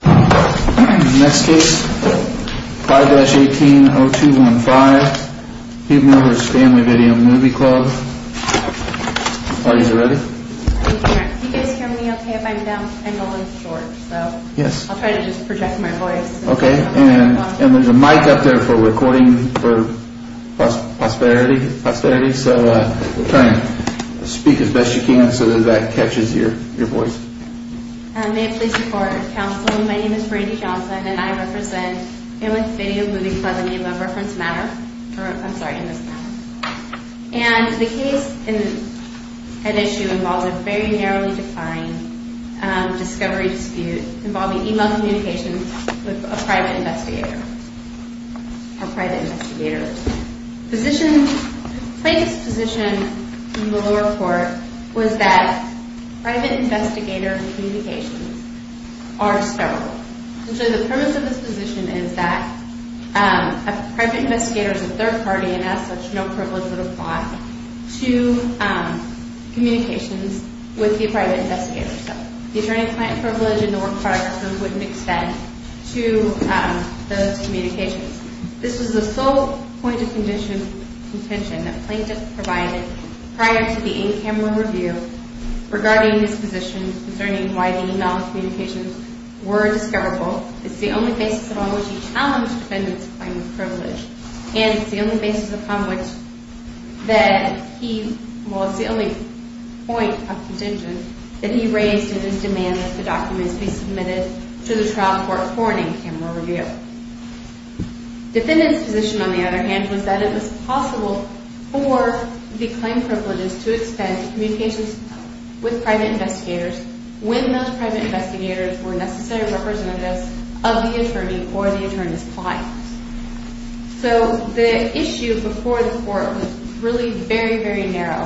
Next case, 5-18-0215, Hubebner v. Family Video Movie Club. Are you ready? Can you guys hear me okay if I'm down, I know I'm short. Yes. I'll try to just project my voice. Okay, and there's a mic up there for recording for posterity, so try and speak as best you can so that that catches your voice. May it please the court. Counsel, my name is Brandi Johnson and I represent Family Video Movie Club in the love reference matter. I'm sorry, in this matter. And the case and issue involved a very narrowly defined discovery dispute involving email communications with a private investigator. A private investigator. Position, plaintiff's position in the lower court was that private investigator communications are sterile. So the premise of this position is that a private investigator is a third party and as such no privilege would apply to communications with the private investigator. So the attorney-client privilege and the work products wouldn't extend to those communications. This was the sole point of contention that plaintiff provided prior to the in-camera review regarding his position concerning why the email communications were discoverable. It's the only basis upon which he challenged defendant's claim of privilege and it's the only basis upon which that he, well it's the only point of contention that he raised in his demand that the documents be submitted to the trial court for an in-camera review. Defendant's position on the other hand was that it was possible for the claim privileges to extend to communications with private investigators when those private investigators were necessary representatives of the attorney or the attorney's client. So the issue before the court was really very, very narrow.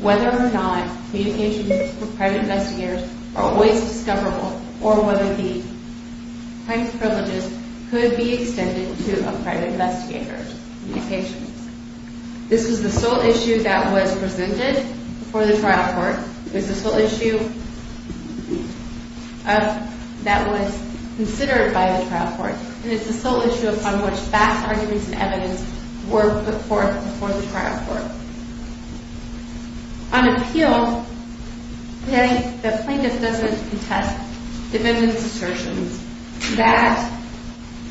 Whether or not communications with private investigators are always discoverable or whether the claim privileges could be extended to a private investigator's communications. This was the sole issue that was presented before the trial court. It was the sole issue that was considered by the trial court. And it's the sole issue upon which vast arguments and evidence were put forth before the trial court. On appeal, the plaintiff doesn't contest defendant's assertions that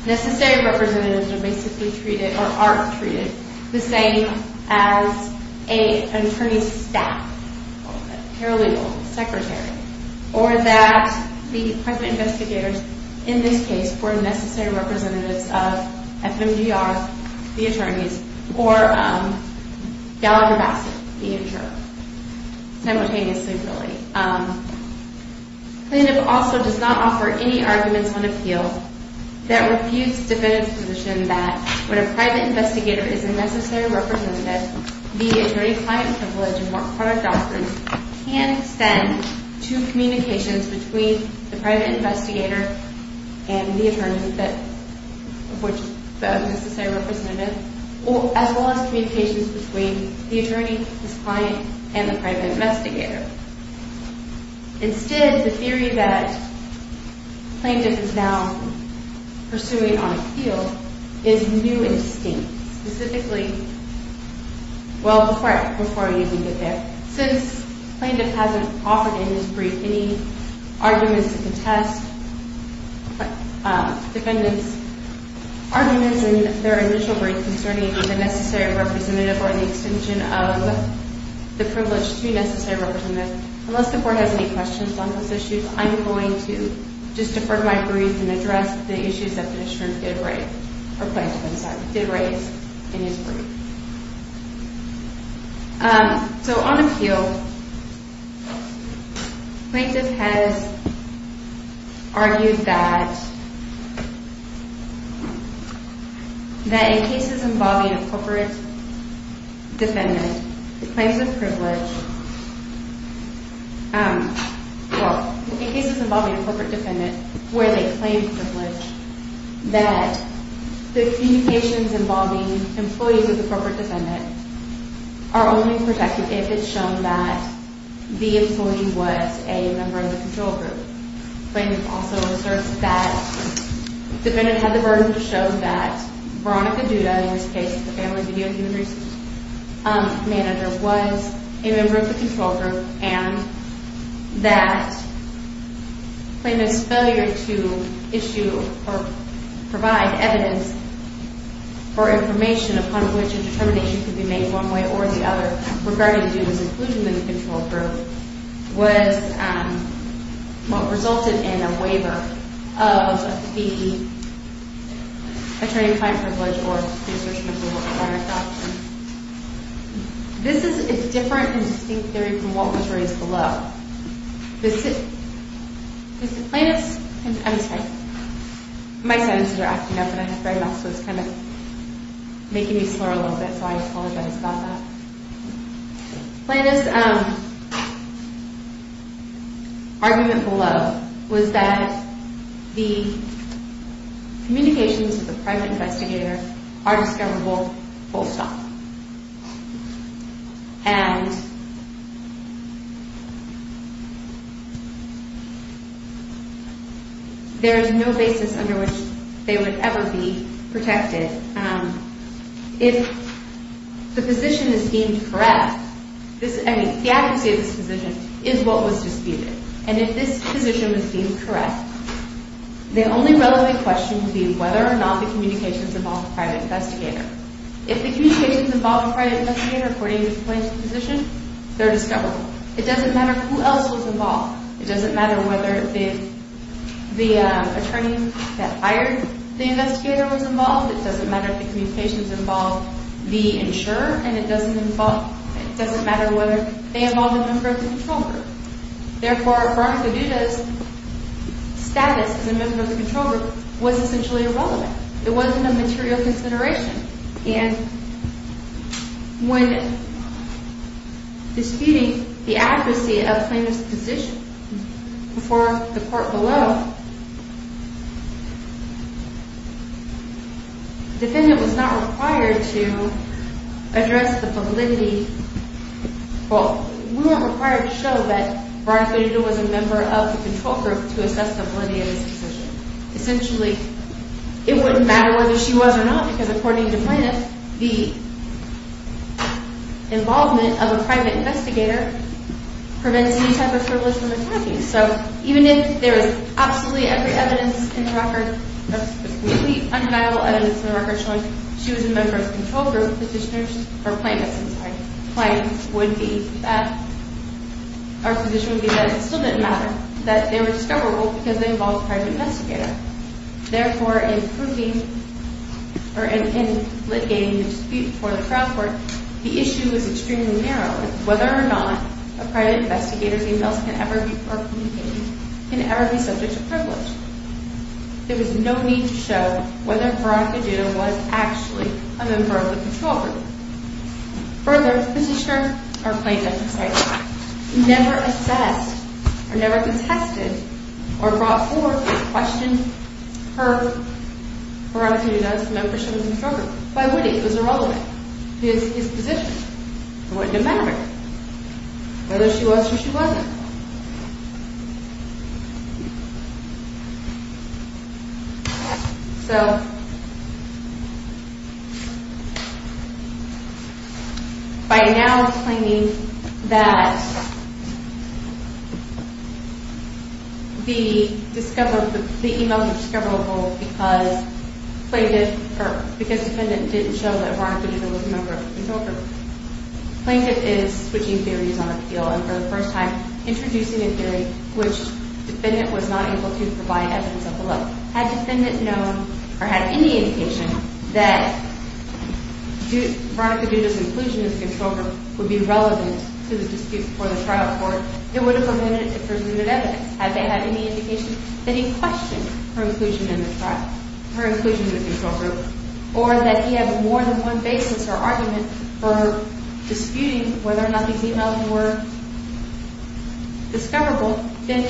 necessary representatives are basically treated or are treated the same as an attorney's staff, a paralegal, secretary, or that the private investigators in this case were necessary representatives of FMGR, the attorneys, or Gallagher Bassett, the interim, simultaneously really. The plaintiff also does not offer any arguments on appeal that refutes defendant's position that when a private investigator is a necessary representative, the attorney-client privilege and work product doctrine can extend to communications between the private investigator and the attorney of which is a necessary representative, as well as communications between the attorney, his client, and the private investigator. Instead, the theory that the plaintiff is now pursuing on appeal is new and distinct, specifically, well, correct, before I even get there. Since the plaintiff hasn't offered in his brief any arguments to contest defendant's arguments in their initial brief concerning the necessary representative or the extension of the privilege to be a necessary representative, unless the court has any questions on those issues, I'm going to just defer to my brief and address the issues that the plaintiff did raise in his brief. So on appeal, the plaintiff has argued that in cases involving a corporate defendant where they claim privilege, that the communications involving employees of the corporate defendant are only protected if it's shown that the employee was a member of the control group. The plaintiff also asserts that the defendant had the burden to show that Veronica Duda, in this case the family video human resources manager, was a member of the control group and that the plaintiff's failure to issue or provide evidence or information upon which a determination could be made one way or the other regarding Duda's inclusion in the control group was what resulted in a waiver of the attorney-client privilege or the assertion of the work-requirement doctrine. This is a different and distinct theory from what was raised below. The plaintiff's argument below was that the communications with the private investigator are discoverable full stop. And there is no basis under which they would ever be protected. If the position is deemed correct, the advocacy of this position is what was disputed. And if this position is deemed correct, the only relevant question would be whether or not the communications involved the private investigator. If the communications involved the private investigator, according to the plaintiff's position, they're discoverable. It doesn't matter who else was involved. It doesn't matter whether the attorney that hired the investigator was involved. It doesn't matter if the communications involved the insurer. And it doesn't matter whether they involved a member of the control group. Therefore, Veronica Duda's status as a member of the control group was essentially irrelevant. It wasn't a material consideration. And when disputing the advocacy of the plaintiff's position before the court below, the defendant was not required to address the validity. Well, we weren't required to show that Veronica Duda was a member of the control group to assess the validity of this position. Essentially, it wouldn't matter whether she was or not because according to the plaintiff, the involvement of a private investigator prevents any type of privilege from attacking. So even if there is absolutely every evidence in the record, absolutely undeniable evidence in the record showing she was a member of the control group, the plaintiff's position would be that it still didn't matter that they were discoverable because they involved a private investigator. Therefore, in litigating the dispute before the trial court, the issue is extremely narrow. It's whether or not a private investigator's emails can ever be subject to privilege. There was no need to show whether Veronica Duda was actually a member of the control group. Further, this is sure, our plaintiff never assessed or never contested or brought forth or questioned her Veronica Duda as a member of the control group. Why would he? It was irrelevant. It was his position. So by now explaining that the emails were discoverable because the defendant didn't show that Veronica Duda was a member of the control group, the plaintiff is switching theories on appeal and for the first time introducing a theory which the defendant was not able to provide evidence of the love. Had the defendant known or had any indication that Veronica Duda's inclusion in the control group would be relevant to the dispute before the trial court, it would have prevented it from receiving evidence. Had they had any indication that he questioned her inclusion in the control group or that he had more than one basis or argument for disputing whether or not the emails were discoverable, then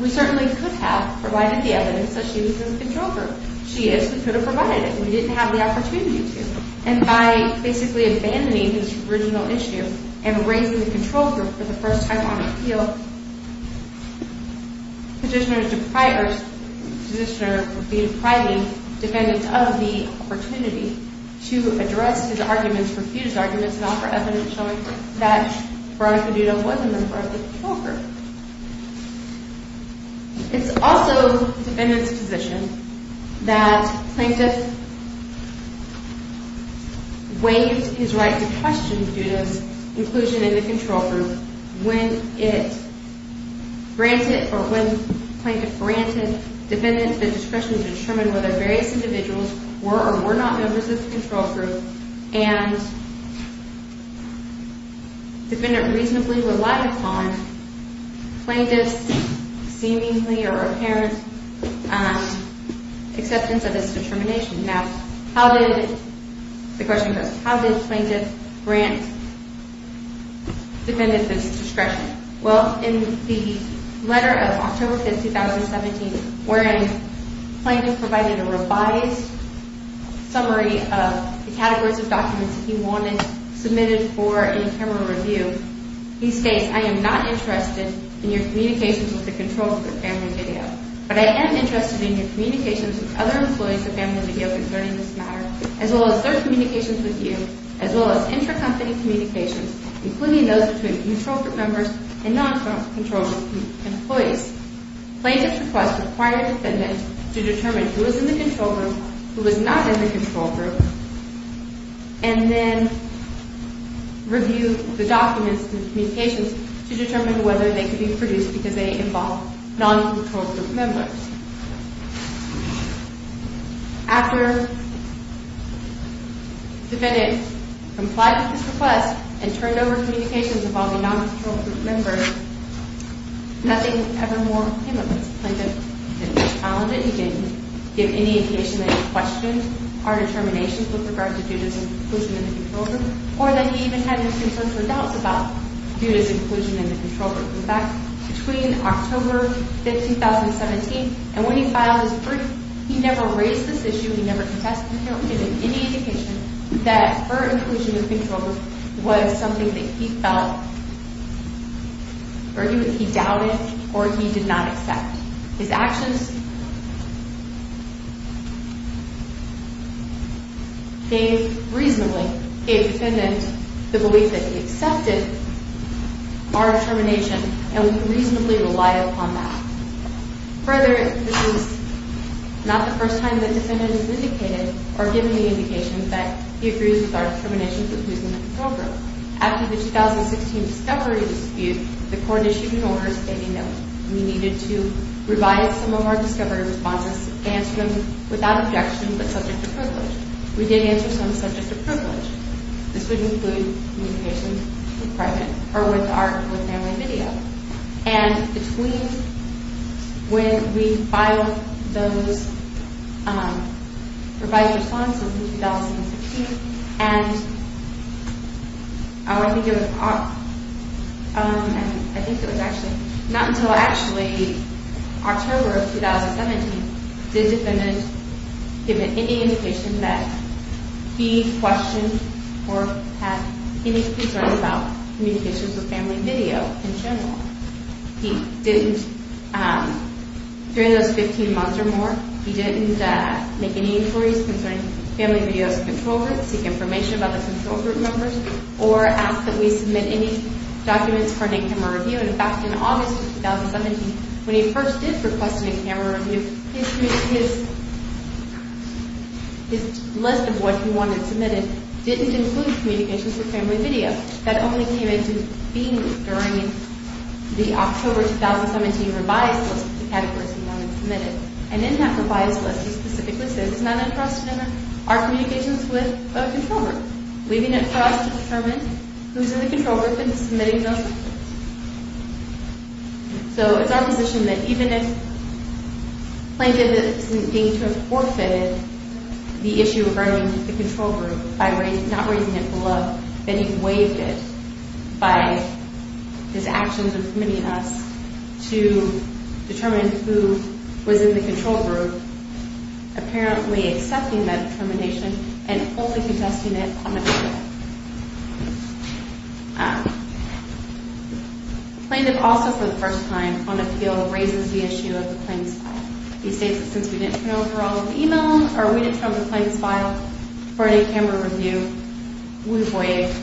we certainly could have provided the evidence that she was in the control group. She is who could have provided it. We didn't have the opportunity to. And by basically abandoning his original issue and raising the control group for the first time on appeal, the petitioner would be depriving defendants of the opportunity to address his arguments, and offer evidence showing that Veronica Duda wasn't a member of the control group. It's also the defendant's position that the plaintiff waived his right to question Duda's inclusion in the control group when the plaintiff granted defendants the discretion to determine whether various individuals were or were not members of the control group and defendant reasonably relied upon plaintiff's seemingly or apparent acceptance of his determination. Now, how did plaintiff grant defendants this discretion? Well, in the letter of October 5, 2017, where the plaintiff provided a revised summary of the categories of documents he wanted submitted for in-camera review, he states, I am not interested in your communications with the control group of Family Video, but I am interested in your communications with other employees of Family Video concerning this matter, as well as their communications with you, as well as intra-company communications, including those between control group members and non-control group employees. Plaintiff's request required the defendant to determine who was in the control group, who was not in the control group, and then review the documents and communications to determine whether they could be produced because they involved non-control group members. After defendant complied with this request and turned over communications involving non-control group members, nothing ever more came of this. Plaintiff didn't challenge it, he didn't give any indication that he questioned our determinations with regard to Judith's inclusion in the control group, or that he even had his concerns or doubts about Judith's inclusion in the control group. In fact, between October 15, 2017, and when he filed his brief, he never raised this issue, he never contested it, he didn't give any indication that her inclusion in the control group was something that he felt, argued that he doubted, or he did not accept. His actions gave, reasonably, gave defendant the belief that he accepted our determination and would reasonably rely upon that. Further, this is not the first time that defendant has indicated or given the indication that he agrees with our determination that he was in the control group. After the 2016 discovery dispute, the court issued an order stating that we needed to revise some of our discovery responses, answer them without objection but subject to privilege. We did answer some subject to privilege. This would include communications with private or with our family video. And between when we filed those revised responses in 2016 and, I think it was, I think it was actually, not until actually October of 2017 did defendant give any indication that he questioned or had any concerns about communications with family video in general. He didn't, during those 15 months or more, he didn't make any inquiries concerning family video's control group, seek information about the control group members, or ask that we submit any documents for an in-camera review. In fact, in August of 2017, when he first did request an in-camera review, his list of what he wanted submitted didn't include communications with family video. That only came into being during the October 2017 revised list of categories he wanted submitted. And in that revised list, he specifically said it's not enough for us to determine our communications with a control group, leaving it for us to determine who's in the control group and submitting those documents. So it's our position that even if plaintiff is deemed to have forfeited the issue regarding the control group by not raising it above, that he waived it by his actions of submitting us to determine who was in the control group, apparently accepting that determination and only suggesting it on appeal. Plaintiff also, for the first time, on appeal, raises the issue of the claims file. He states that since we didn't turn over all of the email, or we didn't turn over the claims file for an in-camera review, we've waived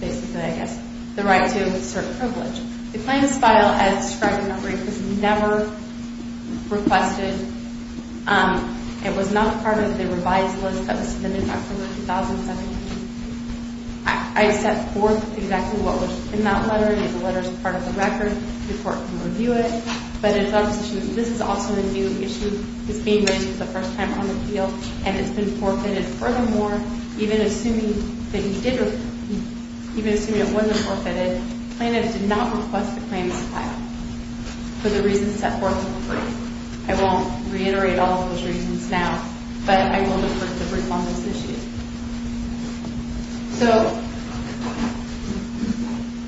basically, I guess, the right to assert privilege. The claims file, as described in that brief, was never requested. It was not part of the revised list that was submitted in October 2017. I set forth exactly what was in that letter. The letter is part of the record. The court can review it. But it's our position that this is also a new issue. It's being raised for the first time on appeal, and it's been forfeited. Furthermore, even assuming it wasn't forfeited, plaintiff did not request the claims file for the reasons set forth in the brief. I won't reiterate all of those reasons now, but I will refer to the brief on this issue. So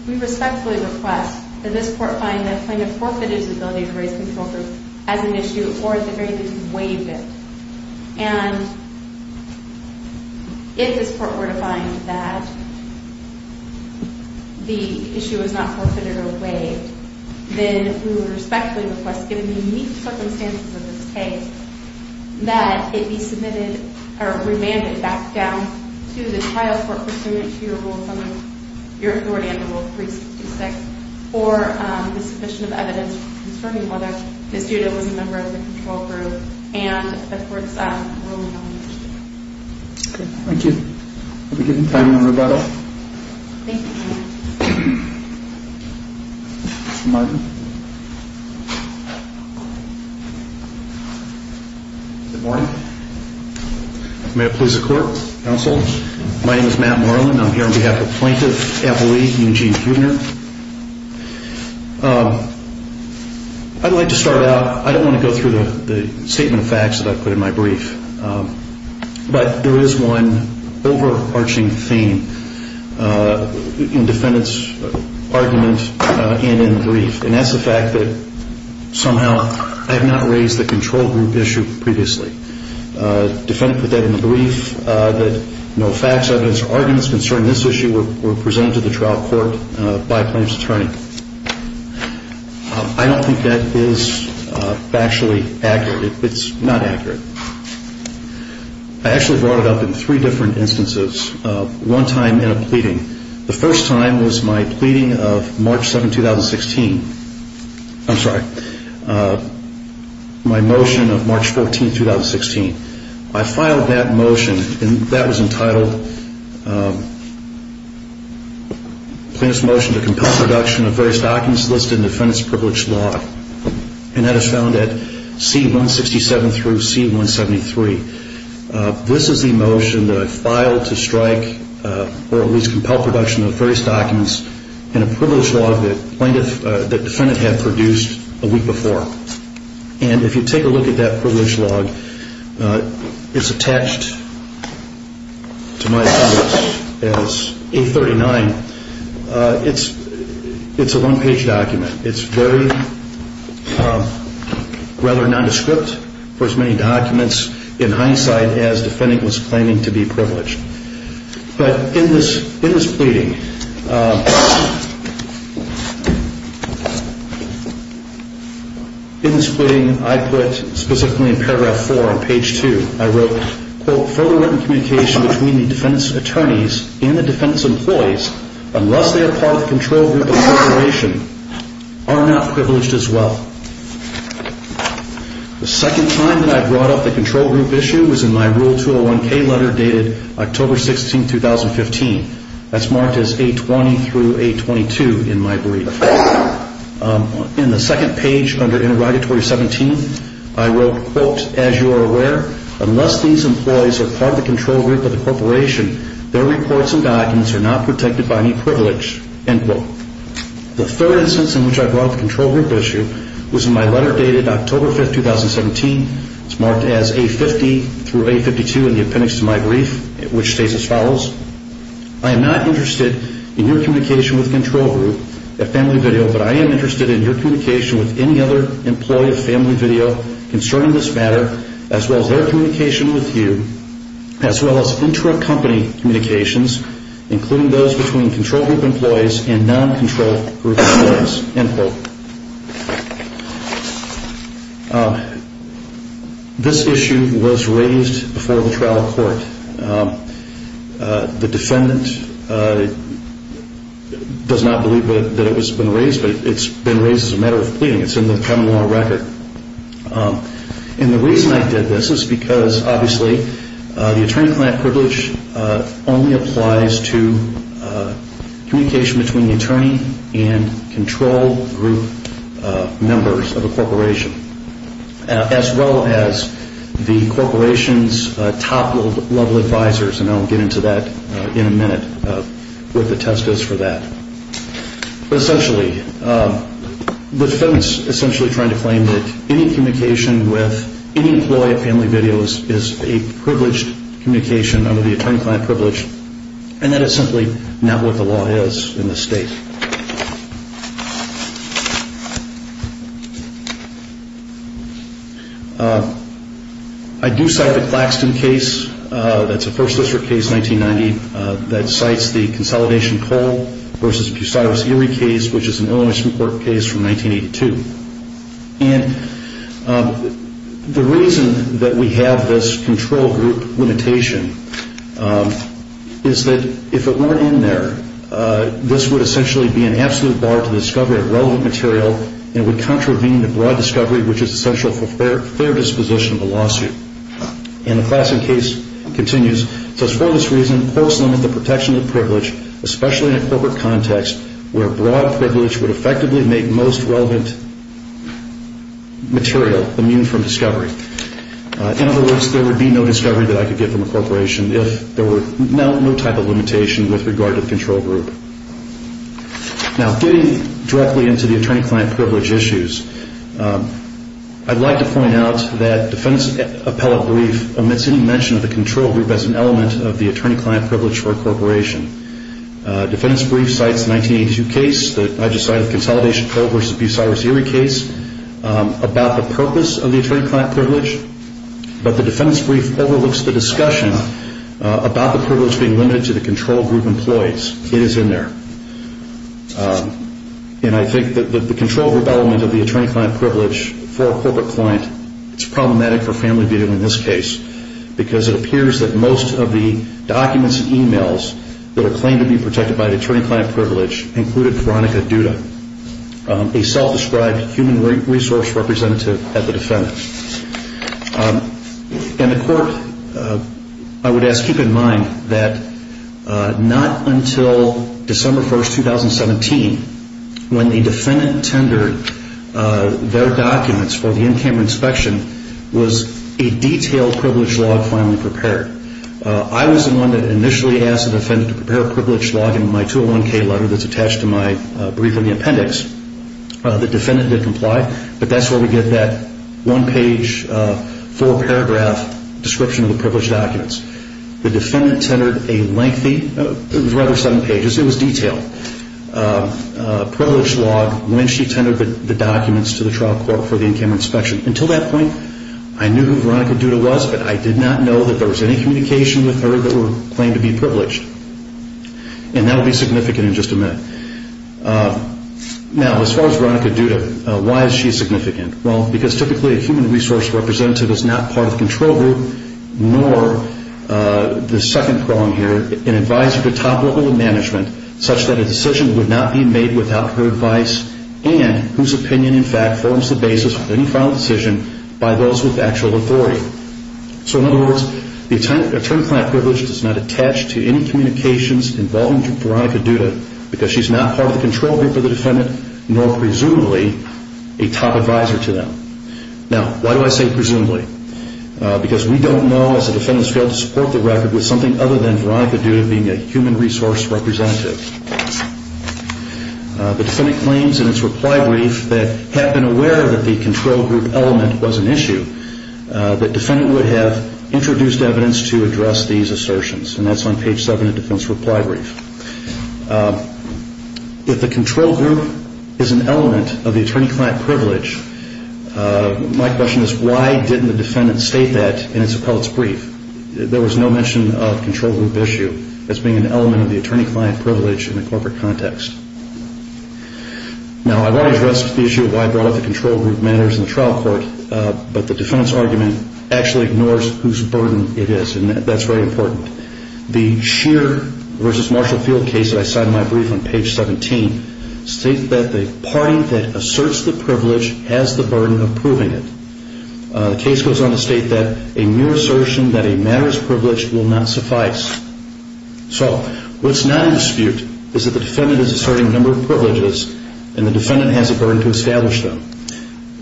we respectfully request that this court find that plaintiff forfeited his ability to raise control groups as an issue, or at the very least, waived it. And if this court were to find that the issue was not forfeited or waived, then we would respectfully request, given the unique circumstances of this case, that it be remanded back down to the trial court pursuant to your authority under Rule 366 for the sufficient evidence concerning whether Ms. Duda was a member of the control group and the court's ruling on the issue. Thank you. Have a good time in the rebuttal. Thank you. Mr. Martin. Good morning. May it please the court, counsel. My name is Matt Marlin. I'm here on behalf of Plaintiff Appellee Eugene Kuehner. I'd like to start out, I don't want to go through the statement of facts that I put in my brief, but there is one overarching theme in the defendant's argument and in the brief, and that's the fact that somehow I have not raised the control group issue previously. The defendant put that in the brief that no facts, evidence, or arguments concerning this issue were presented to the trial court by a plaintiff's attorney. I don't think that is factually accurate. It's not accurate. I actually brought it up in three different instances, one time in a pleading. The first time was my pleading of March 7, 2016. I'm sorry, my motion of March 14, 2016. I filed that motion, and that was entitled Plaintiff's Motion to Compel Production of Various Documents Listed in Defendant's Privileged Law. And that is found at C-167 through C-173. This is the motion that I filed to strike or at least compel production of various documents in a privileged law that the defendant had produced a week before. And if you take a look at that privileged law, it's attached, to my knowledge, as A-39. It's a one-page document. It's very rather nondescript for as many documents in hindsight as the defendant was claiming to be privileged. But in this pleading, I put specifically in paragraph 4 on page 2, I wrote, quote, The second time that I brought up the control group issue was in my Rule 201-K letter dated October 16, 2015. That's marked as A-20 through A-22 in my brief. In the second page under Interrogatory 17, I wrote, quote, The third instance in which I brought up the control group issue was in my letter dated October 5, 2017. It's marked as A-50 through A-52 in the appendix to my brief, which states as follows, I am not interested in your communication with Control Group at Family Video, but I am interested in your communication with any other employee of Family Video concerning this matter, as well as their communication with you, as well as intra-company communications, including those between Control Group employees and non-Control Group employees, end quote. This issue was raised before the trial court. The defendant does not believe that it has been raised, but it's been raised as a matter of pleading. It's in the criminal record. And the reason I did this is because, obviously, the attorney-client privilege only applies to communication between the attorney and Control Group members of a corporation, as well as the corporation's top-level advisors. And I'll get into that in a minute, what the test is for that. But essentially, the defendant's essentially trying to claim that any communication with any employee of Family Video is a privileged communication under the attorney-client privilege, and that it's simply not what the law is in this state. I do cite the Claxton case. That's a First District case, 1990, that cites the Consolidation Coal versus Bucyrus Erie case, which is an Illinois Supreme Court case from 1982. And the reason that we have this Control Group limitation is that if it weren't in there, this would essentially be an absolute bar to the discovery of relevant material, and it would contravene the broad discovery, which is essential for fair disposition of a lawsuit. And the Claxton case continues. It says, for this reason, courts limit the protection of privilege, especially in a corporate context, where broad privilege would effectively make most relevant material immune from discovery. In other words, there would be no discovery that I could get from a corporation if there were no type of limitation with regard to the Control Group. Now, getting directly into the attorney-client privilege issues, I'd like to point out that defendant's appellate brief omits any mention of the Control Group as an element of the attorney-client privilege for a corporation. Defendant's brief cites the 1982 case that I just cited, the Consolidation Coal versus Bucyrus Erie case, about the purpose of the attorney-client privilege, but the defendant's brief overlooks the discussion about the privilege being limited to the Control Group employees. It is in there. And I think that the Control Group element of the attorney-client privilege for a corporate client, it's problematic for family viewing in this case because it appears that most of the documents and e-mails that are claimed to be protected by the attorney-client privilege included Veronica Duda, a self-described human resource representative at the defendant. And the court, I would ask, keep in mind that not until December 1, 2017, when the defendant tendered their documents for the in-camera inspection, was a detailed privilege log finally prepared. I was the one that initially asked the defendant to prepare a privilege log in my 201-K letter that's attached to my brief in the appendix. The defendant did comply, but that's where we get that one-page, four-paragraph description of the privilege documents. The defendant tendered a lengthy, rather seven pages, it was detailed, privilege log when she tendered the documents to the trial court for the in-camera inspection. Until that point, I knew who Veronica Duda was, but I did not know that there was any communication with her that would claim to be privileged. And that will be significant in just a minute. Now, as far as Veronica Duda, why is she significant? Well, because typically a human resource representative is not part of the control group, nor the second prong here, an advisor to top level of management, such that a decision would not be made without her advice and whose opinion, in fact, forms the basis for any final decision by those with actual authority. So, in other words, the attorney-client privilege does not attach to any communications involving Veronica Duda because she's not part of the control group of the defendant, nor presumably a top advisor to them. Now, why do I say presumably? Because we don't know, as the defendants failed to support the record, with something other than Veronica Duda being a human resource representative. The defendant claims in its reply brief that, had been aware that the control group element was an issue, the defendant would have introduced evidence to address these assertions. And that's on page 7 of the defendant's reply brief. If the control group is an element of the attorney-client privilege, my question is, why didn't the defendant state that in its appellate's brief? There was no mention of control group issue as being an element of the attorney-client privilege in a corporate context. Now, I want to address the issue of why I brought up the control group matters in the trial court, but the defendant's argument actually ignores whose burden it is, and that's very important. The Scheer v. Marshall Field case that I cite in my brief on page 17 states that the party that asserts the privilege has the burden of proving it. The case goes on to state that a mere assertion that a matter is privileged will not suffice. So, what's not in dispute is that the defendant is asserting a number of privileges, and the defendant has a burden to establish them.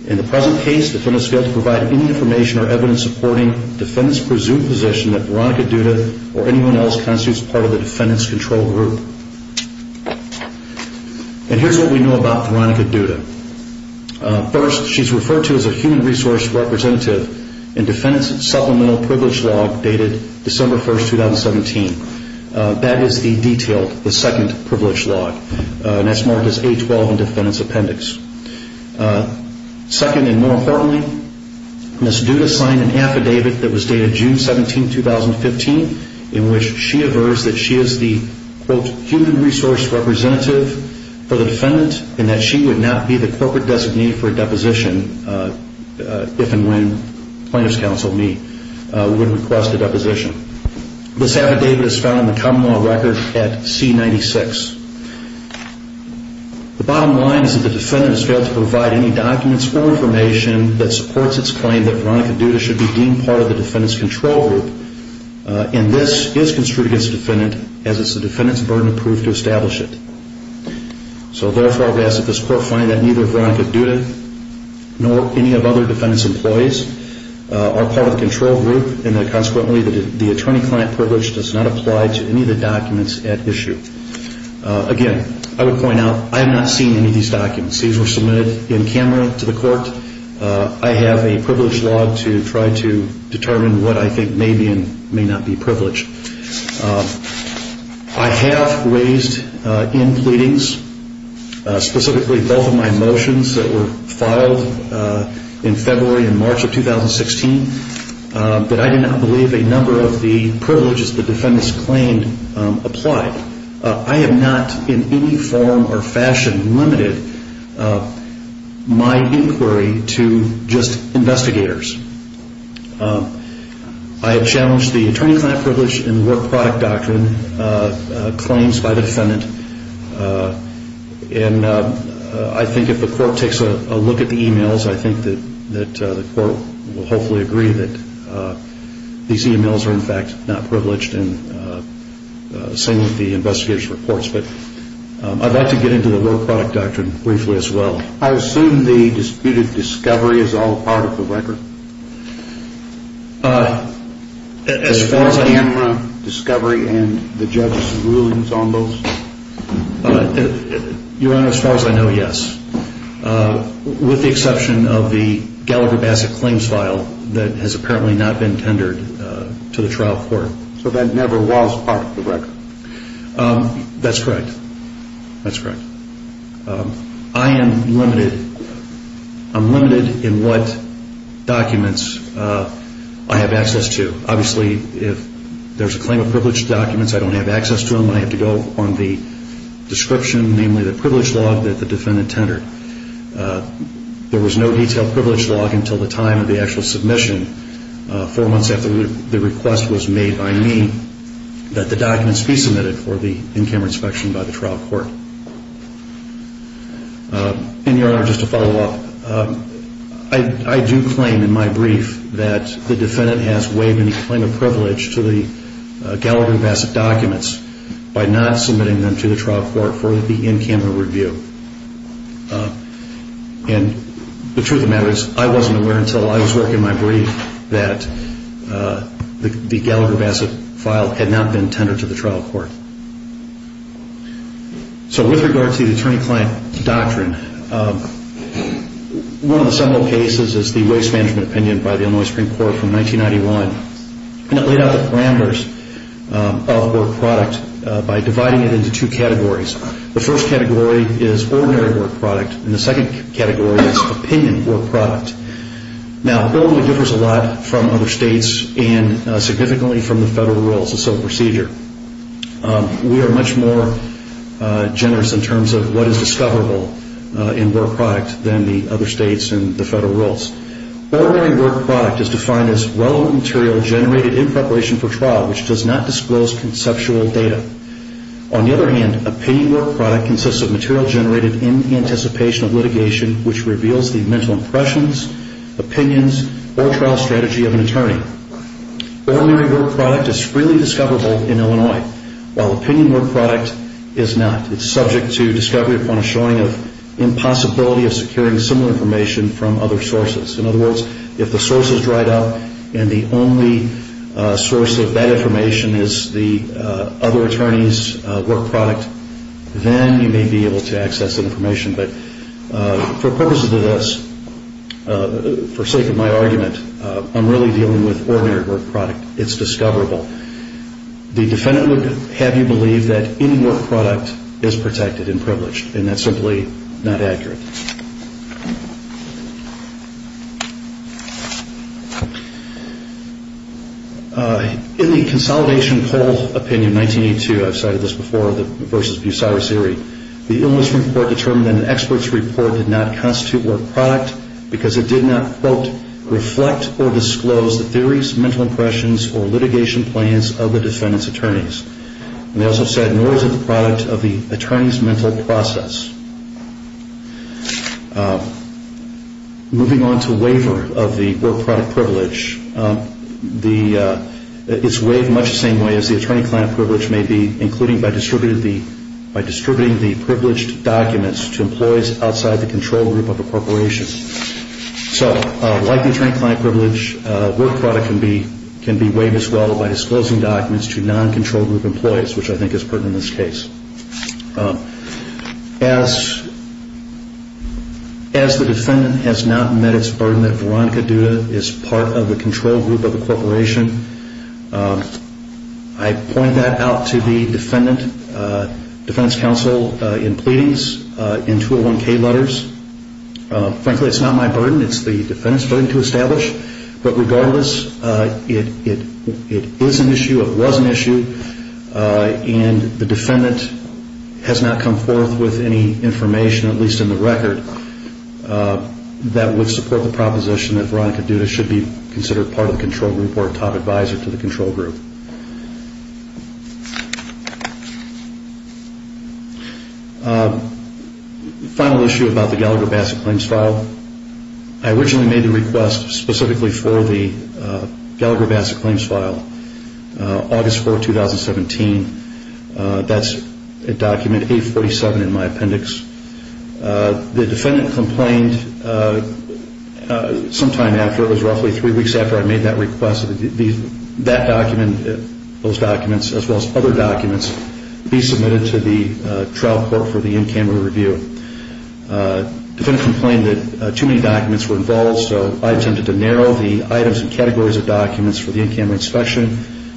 In the present case, the defendant has failed to provide any information or evidence supporting the defendant's presumed position that Veronica Duda or anyone else constitutes part of the defendant's control group. And here's what we know about Veronica Duda. First, she's referred to as a human resource representative in defendant's supplemental privilege log dated December 1, 2017. That is the detailed, the second privilege log, and that's marked as A-12 in defendant's appendix. Second, and more importantly, Ms. Duda signed an affidavit that was dated June 17, 2015, in which she aversed that she is the, quote, human resource representative for the defendant and that she would not be the appropriate designee for a deposition if and when plaintiff's counsel, me, would request a deposition. This affidavit is found in the Commonwealth Record at C-96. The bottom line is that the defendant has failed to provide any documents or information that supports its claim that Veronica Duda should be deemed part of the defendant's control group, and this is construed against the defendant as it's the defendant's burden of proof to establish it. So therefore, we ask that this court find that neither Veronica Duda nor any of other defendant's employees are part of the control group and that consequently the attorney-client privilege does not apply to any of the documents at issue. Again, I would point out, I have not seen any of these documents. These were submitted in camera to the court. I have a privilege log to try to determine what I think may be and may not be privileged. I have raised in pleadings, specifically both of my motions that were filed in February and March of 2016, that I did not believe a number of the privileges the defendants claimed applied. I have not in any form or fashion limited my inquiry to just investigators. I have challenged the attorney-client privilege and the work product doctrine claims by the defendant, and I think if the court takes a look at the emails, I think that the court will hopefully agree that these emails are in fact not privileged, and the same with the investigators' reports, but I'd like to get into the work product doctrine briefly as well. I assume the disputed discovery is all part of the record? As far as I know. The camera discovery and the judge's rulings on those? Your Honor, as far as I know, yes, with the exception of the Gallagher Bassett claims file that has apparently not been tendered to the trial court. So that never was part of the record? That's correct. That's correct. I am limited in what documents I have access to. Obviously, if there's a claim of privileged documents, I don't have access to them. I have to go on the description, namely the privilege log that the defendant tendered. There was no detailed privilege log until the time of the actual submission, four months after the request was made by me, that the documents be submitted for the in-camera inspection by the trial court. And, Your Honor, just to follow up, I do claim in my brief that the defendant has waived any claim of privilege to the Gallagher Bassett documents by not submitting them to the trial court for the in-camera review. And the truth of the matter is I wasn't aware until I was working my brief that the Gallagher Bassett file had not been tendered to the trial court. So with regard to the attorney-client doctrine, one of the several cases is the Waste Management Opinion by the Illinois Supreme Court from 1991. And it laid out the parameters of a product by dividing it into two categories. The first category is ordinary work product, and the second category is opinion work product. Now, it only differs a lot from other states and significantly from the federal rules of civil procedure. We are much more generous in terms of what is discoverable in work product than the other states and the federal rules. Ordinary work product is defined as relevant material generated in preparation for trial which does not disclose conceptual data. On the other hand, opinion work product consists of material generated in anticipation of litigation which reveals the mental impressions, opinions, or trial strategy of an attorney. Ordinary work product is freely discoverable in Illinois, while opinion work product is not. It's subject to discovery upon a showing of impossibility of securing similar information from other sources. In other words, if the source is dried up and the only source of that information is the other attorney's work product, then you may be able to access that information. But for purposes of this, for sake of my argument, I'm really dealing with ordinary work product. It's discoverable. The defendant would have you believe that any work product is protected and privileged, and that's simply not accurate. In the Consolidation Poll Opinion 1982, I've cited this before, versus Boussard or Seery, the Illness Report determined that an expert's report did not constitute work product because it did not, quote, reflect or disclose the theories, mental impressions, or litigation plans of the defendant's attorneys. And they also said, nor is it the product of the attorney's mental process. Moving on to waiver of the work product privilege, it's waived much the same way as the attorney-client privilege may be, including by distributing the privileged documents to employees outside the control group of a corporation. So, like the attorney-client privilege, work product can be waived as well by disclosing documents to non-control group employees, which I think is pertinent in this case. As the defendant has not met its burden that Veronica Duda is part of the control group of a corporation, I point that out to the Defendant's Counsel in pleadings in 201-K letters. Frankly, it's not my burden. It's the defendant's burden to establish. But regardless, it is an issue, it was an issue, and the defendant has not come forth with any information, at least in the record, that would support the proposition that Veronica Duda should be considered part of the control group or a top advisor to the control group. Final issue about the Gallagher-Bassett Claims File. I originally made the request specifically for the Gallagher-Bassett Claims File August 4, 2017. That's document 847 in my appendix. The defendant complained sometime after, it was roughly three weeks after I made that request. That document, those documents, as well as other documents, be submitted to the trial court for the in-camera review. Defendant complained that too many documents were involved, so I attempted to narrow the items and categories of documents for the in-camera inspection.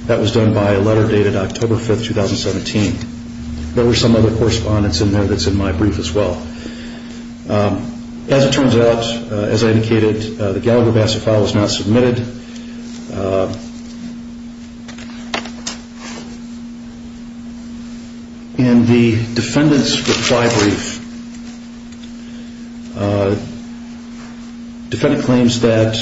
That was done by a letter dated October 5, 2017. There were some other correspondence in there that's in my brief as well. As it turns out, as I indicated, the Gallagher-Bassett File is not submitted. In the defendant's reply brief, defendant claims that,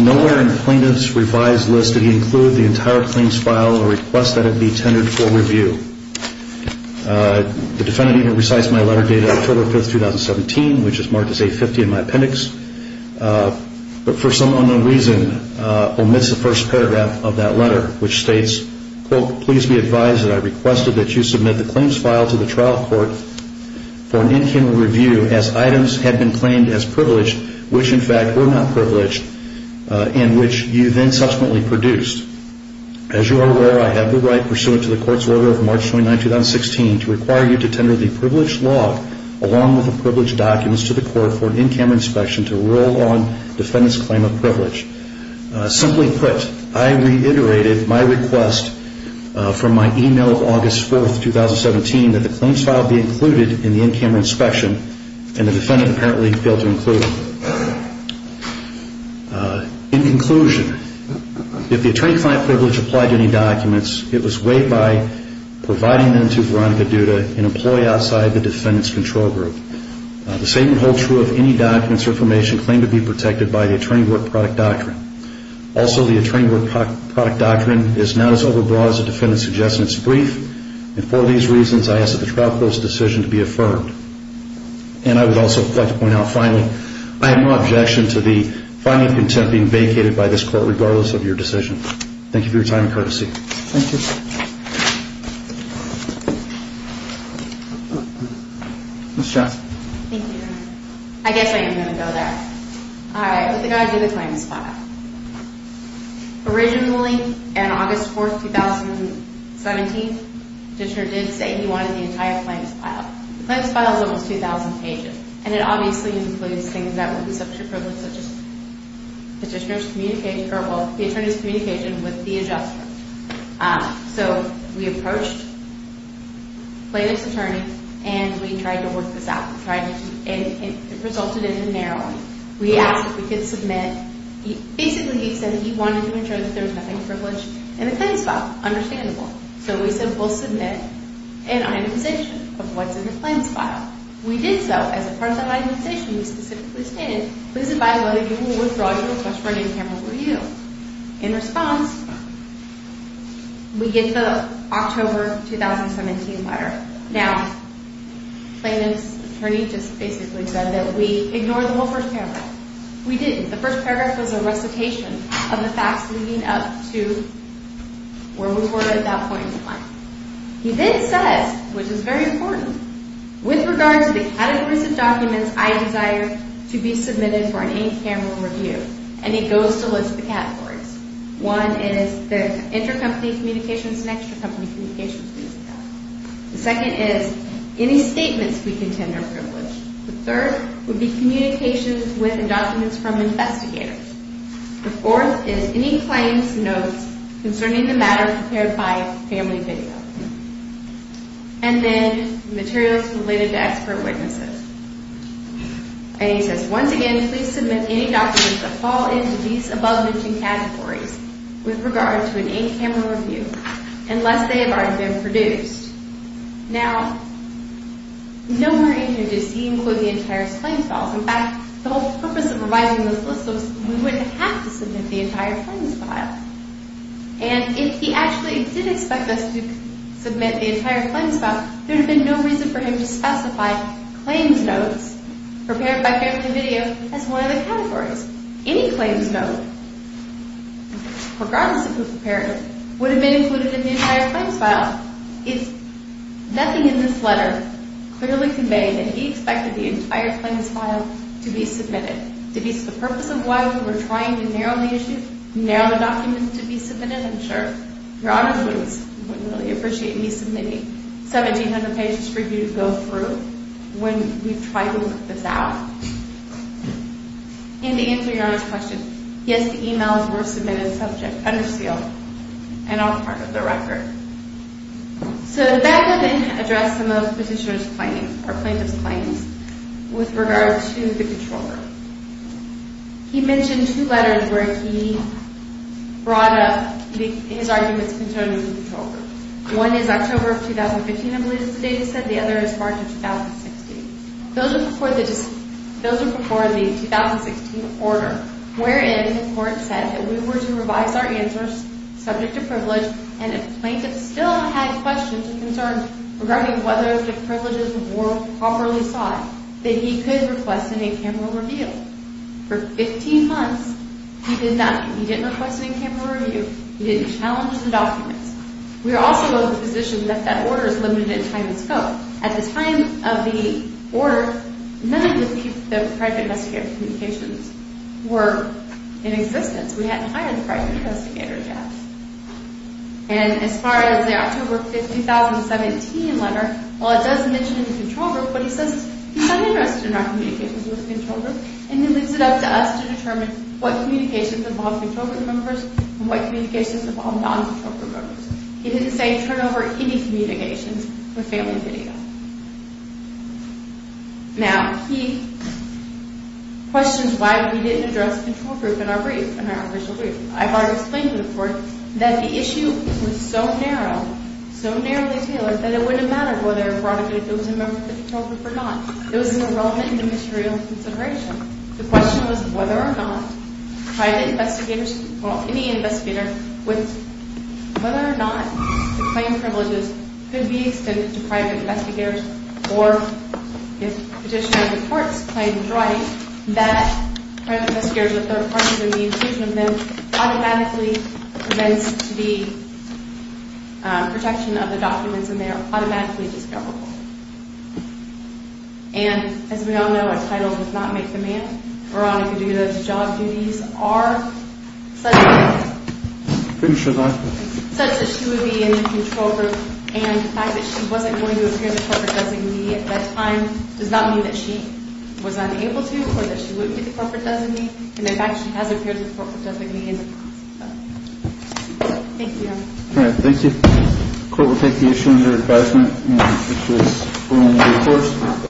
nowhere in plaintiff's revised list did he include the entire claims file or request that it be tendered for review. The defendant even recites my letter dated October 5, 2017, which is marked as 850 in my appendix, but for some unknown reason omits the first paragraph of that letter, which states, quote, please be advised that I requested that you submit the claims file to the trial court for an in-camera review as items had been claimed as privileged, which in fact were not privileged, and which you then subsequently produced. As you are aware, I have the right, pursuant to the court's order of March 29, 2016, to require you to tender the privileged law, along with the privileged documents, to the court for an in-camera inspection to rule on defendant's claim of privilege. Simply put, I reiterated my request from my email of August 4, 2017, that the claims file be included in the in-camera inspection, and the defendant apparently failed to include it. In conclusion, if the attorney-client privilege applied to any documents, it was weighed by providing them to Veronica Duda, an employee outside the defendant's control group. The same would hold true of any documents or information claimed to be protected by the Attorney Work Product Doctrine. Also, the Attorney Work Product Doctrine is not as overbroad as the defendant suggests, and it's brief. And for these reasons, I ask that the trial court's decision be affirmed. And I would also like to point out, finally, I have no objection to the finding of contempt being vacated by this court, regardless of your decision. Thank you. Ms. Johnson. Thank you. I guess I am going to go there. All right, with regard to the claims file. Originally, on August 4, 2017, the petitioner did say he wanted the entire claims file. The claims file is almost 2,000 pages, and it obviously includes things that would be subject to privilege, such as the attorney's communication with the adjuster. So we approached the plaintiff's attorney, and we tried to work this out. It resulted in a narrowing. We asked if we could submit. Basically, he said that he wanted to ensure that there was nothing privileged in the claims file. Understandable. So we said we'll submit an itemization of what's in the claims file. We did so. As a part of the itemization, we specifically stated, please advise whether you will withdraw your request for a new camera review. In response, we get the October 2017 letter. Now, the plaintiff's attorney just basically said that we ignored the whole first paragraph. We didn't. The first paragraph was a recitation of the facts leading up to where we were at that point in time. He then says, which is very important, with regard to the categories of documents I desire to be submitted for an in-camera review, and he goes to list the categories. One is the intercompany communications and extracompany communications. The second is any statements we contend are privileged. The third would be communications with and documents from investigators. The fourth is any claims notes concerning the matter prepared by family video. And then materials related to expert witnesses. And he says, once again, please submit any documents that fall into these above-mentioned categories with regard to an in-camera review unless they have already been produced. Now, no more in here does he include the entire claims files. In fact, the whole purpose of writing this list was that we wouldn't have to submit the entire claims file. And if he actually did expect us to submit the entire claims file, there would have been no reason for him to specify claims notes prepared by family video as one of the categories. Any claims note, regardless of who prepared it, would have been included in the entire claims file. Nothing in this letter clearly conveyed that he expected the entire claims file to be submitted. To be the purpose of why we were trying to narrow the issue, narrow the documents to be submitted, I'm sure. Your Honor, please, I would really appreciate me submitting 1,700 pages for you to go through when we've tried to work this out. And to answer Your Honor's question, yes, the e-mails were submitted subject under seal and all part of the record. So that would then address some of the petitioner's claims or plaintiff's claims with regard to the controller. He mentioned two letters where he brought up his arguments concerning the controller. One is October of 2015, I believe is the date he said. The other is March of 2016. Those are before the 2016 order, wherein the court said that we were to revise our answers subject to privilege and if plaintiff still had questions or concerns regarding whether the privileges were properly sought, that he could request an in-camera reveal. For 15 months, he did not. He didn't request an in-camera reveal. He didn't challenge the documents. We are also of the position that that order is limited in time and scope. At the time of the order, none of the private investigator communications were in existence. We hadn't hired the private investigator yet. And as far as the October 2017 letter, while it does mention the control group, what he says is he's not interested in our communications with the control group and he leaves it up to us to determine what communications involve control group members and what communications involve non-control group members. He didn't say turn over any communications for failing video. Now, he questions why we didn't address the control group in our brief, in our original brief. I've already explained to the court that the issue was so narrow, so narrowly tailored, that it wouldn't matter whether or not it was a member of the control group or not. It was irrelevant in the material consideration. The question was whether or not private investigators, or any investigator, whether or not the claim privileges could be extended to private investigators or if Petitioner's report claims right that private investigators with third parties and the inclusion of them automatically presents to the protection of the documents and they are automatically discoverable. And as we all know, a title does not make the man. Veronica Duda's job duties are such that she would be in the control group and the fact that she wasn't going to appear as a corporate designee at that time does not mean that she was unable to or that she wouldn't be the corporate designee and in fact, she has appeared as a corporate designee in the past. Thank you, Your Honor. Thank you. Court will take the issue under advisement.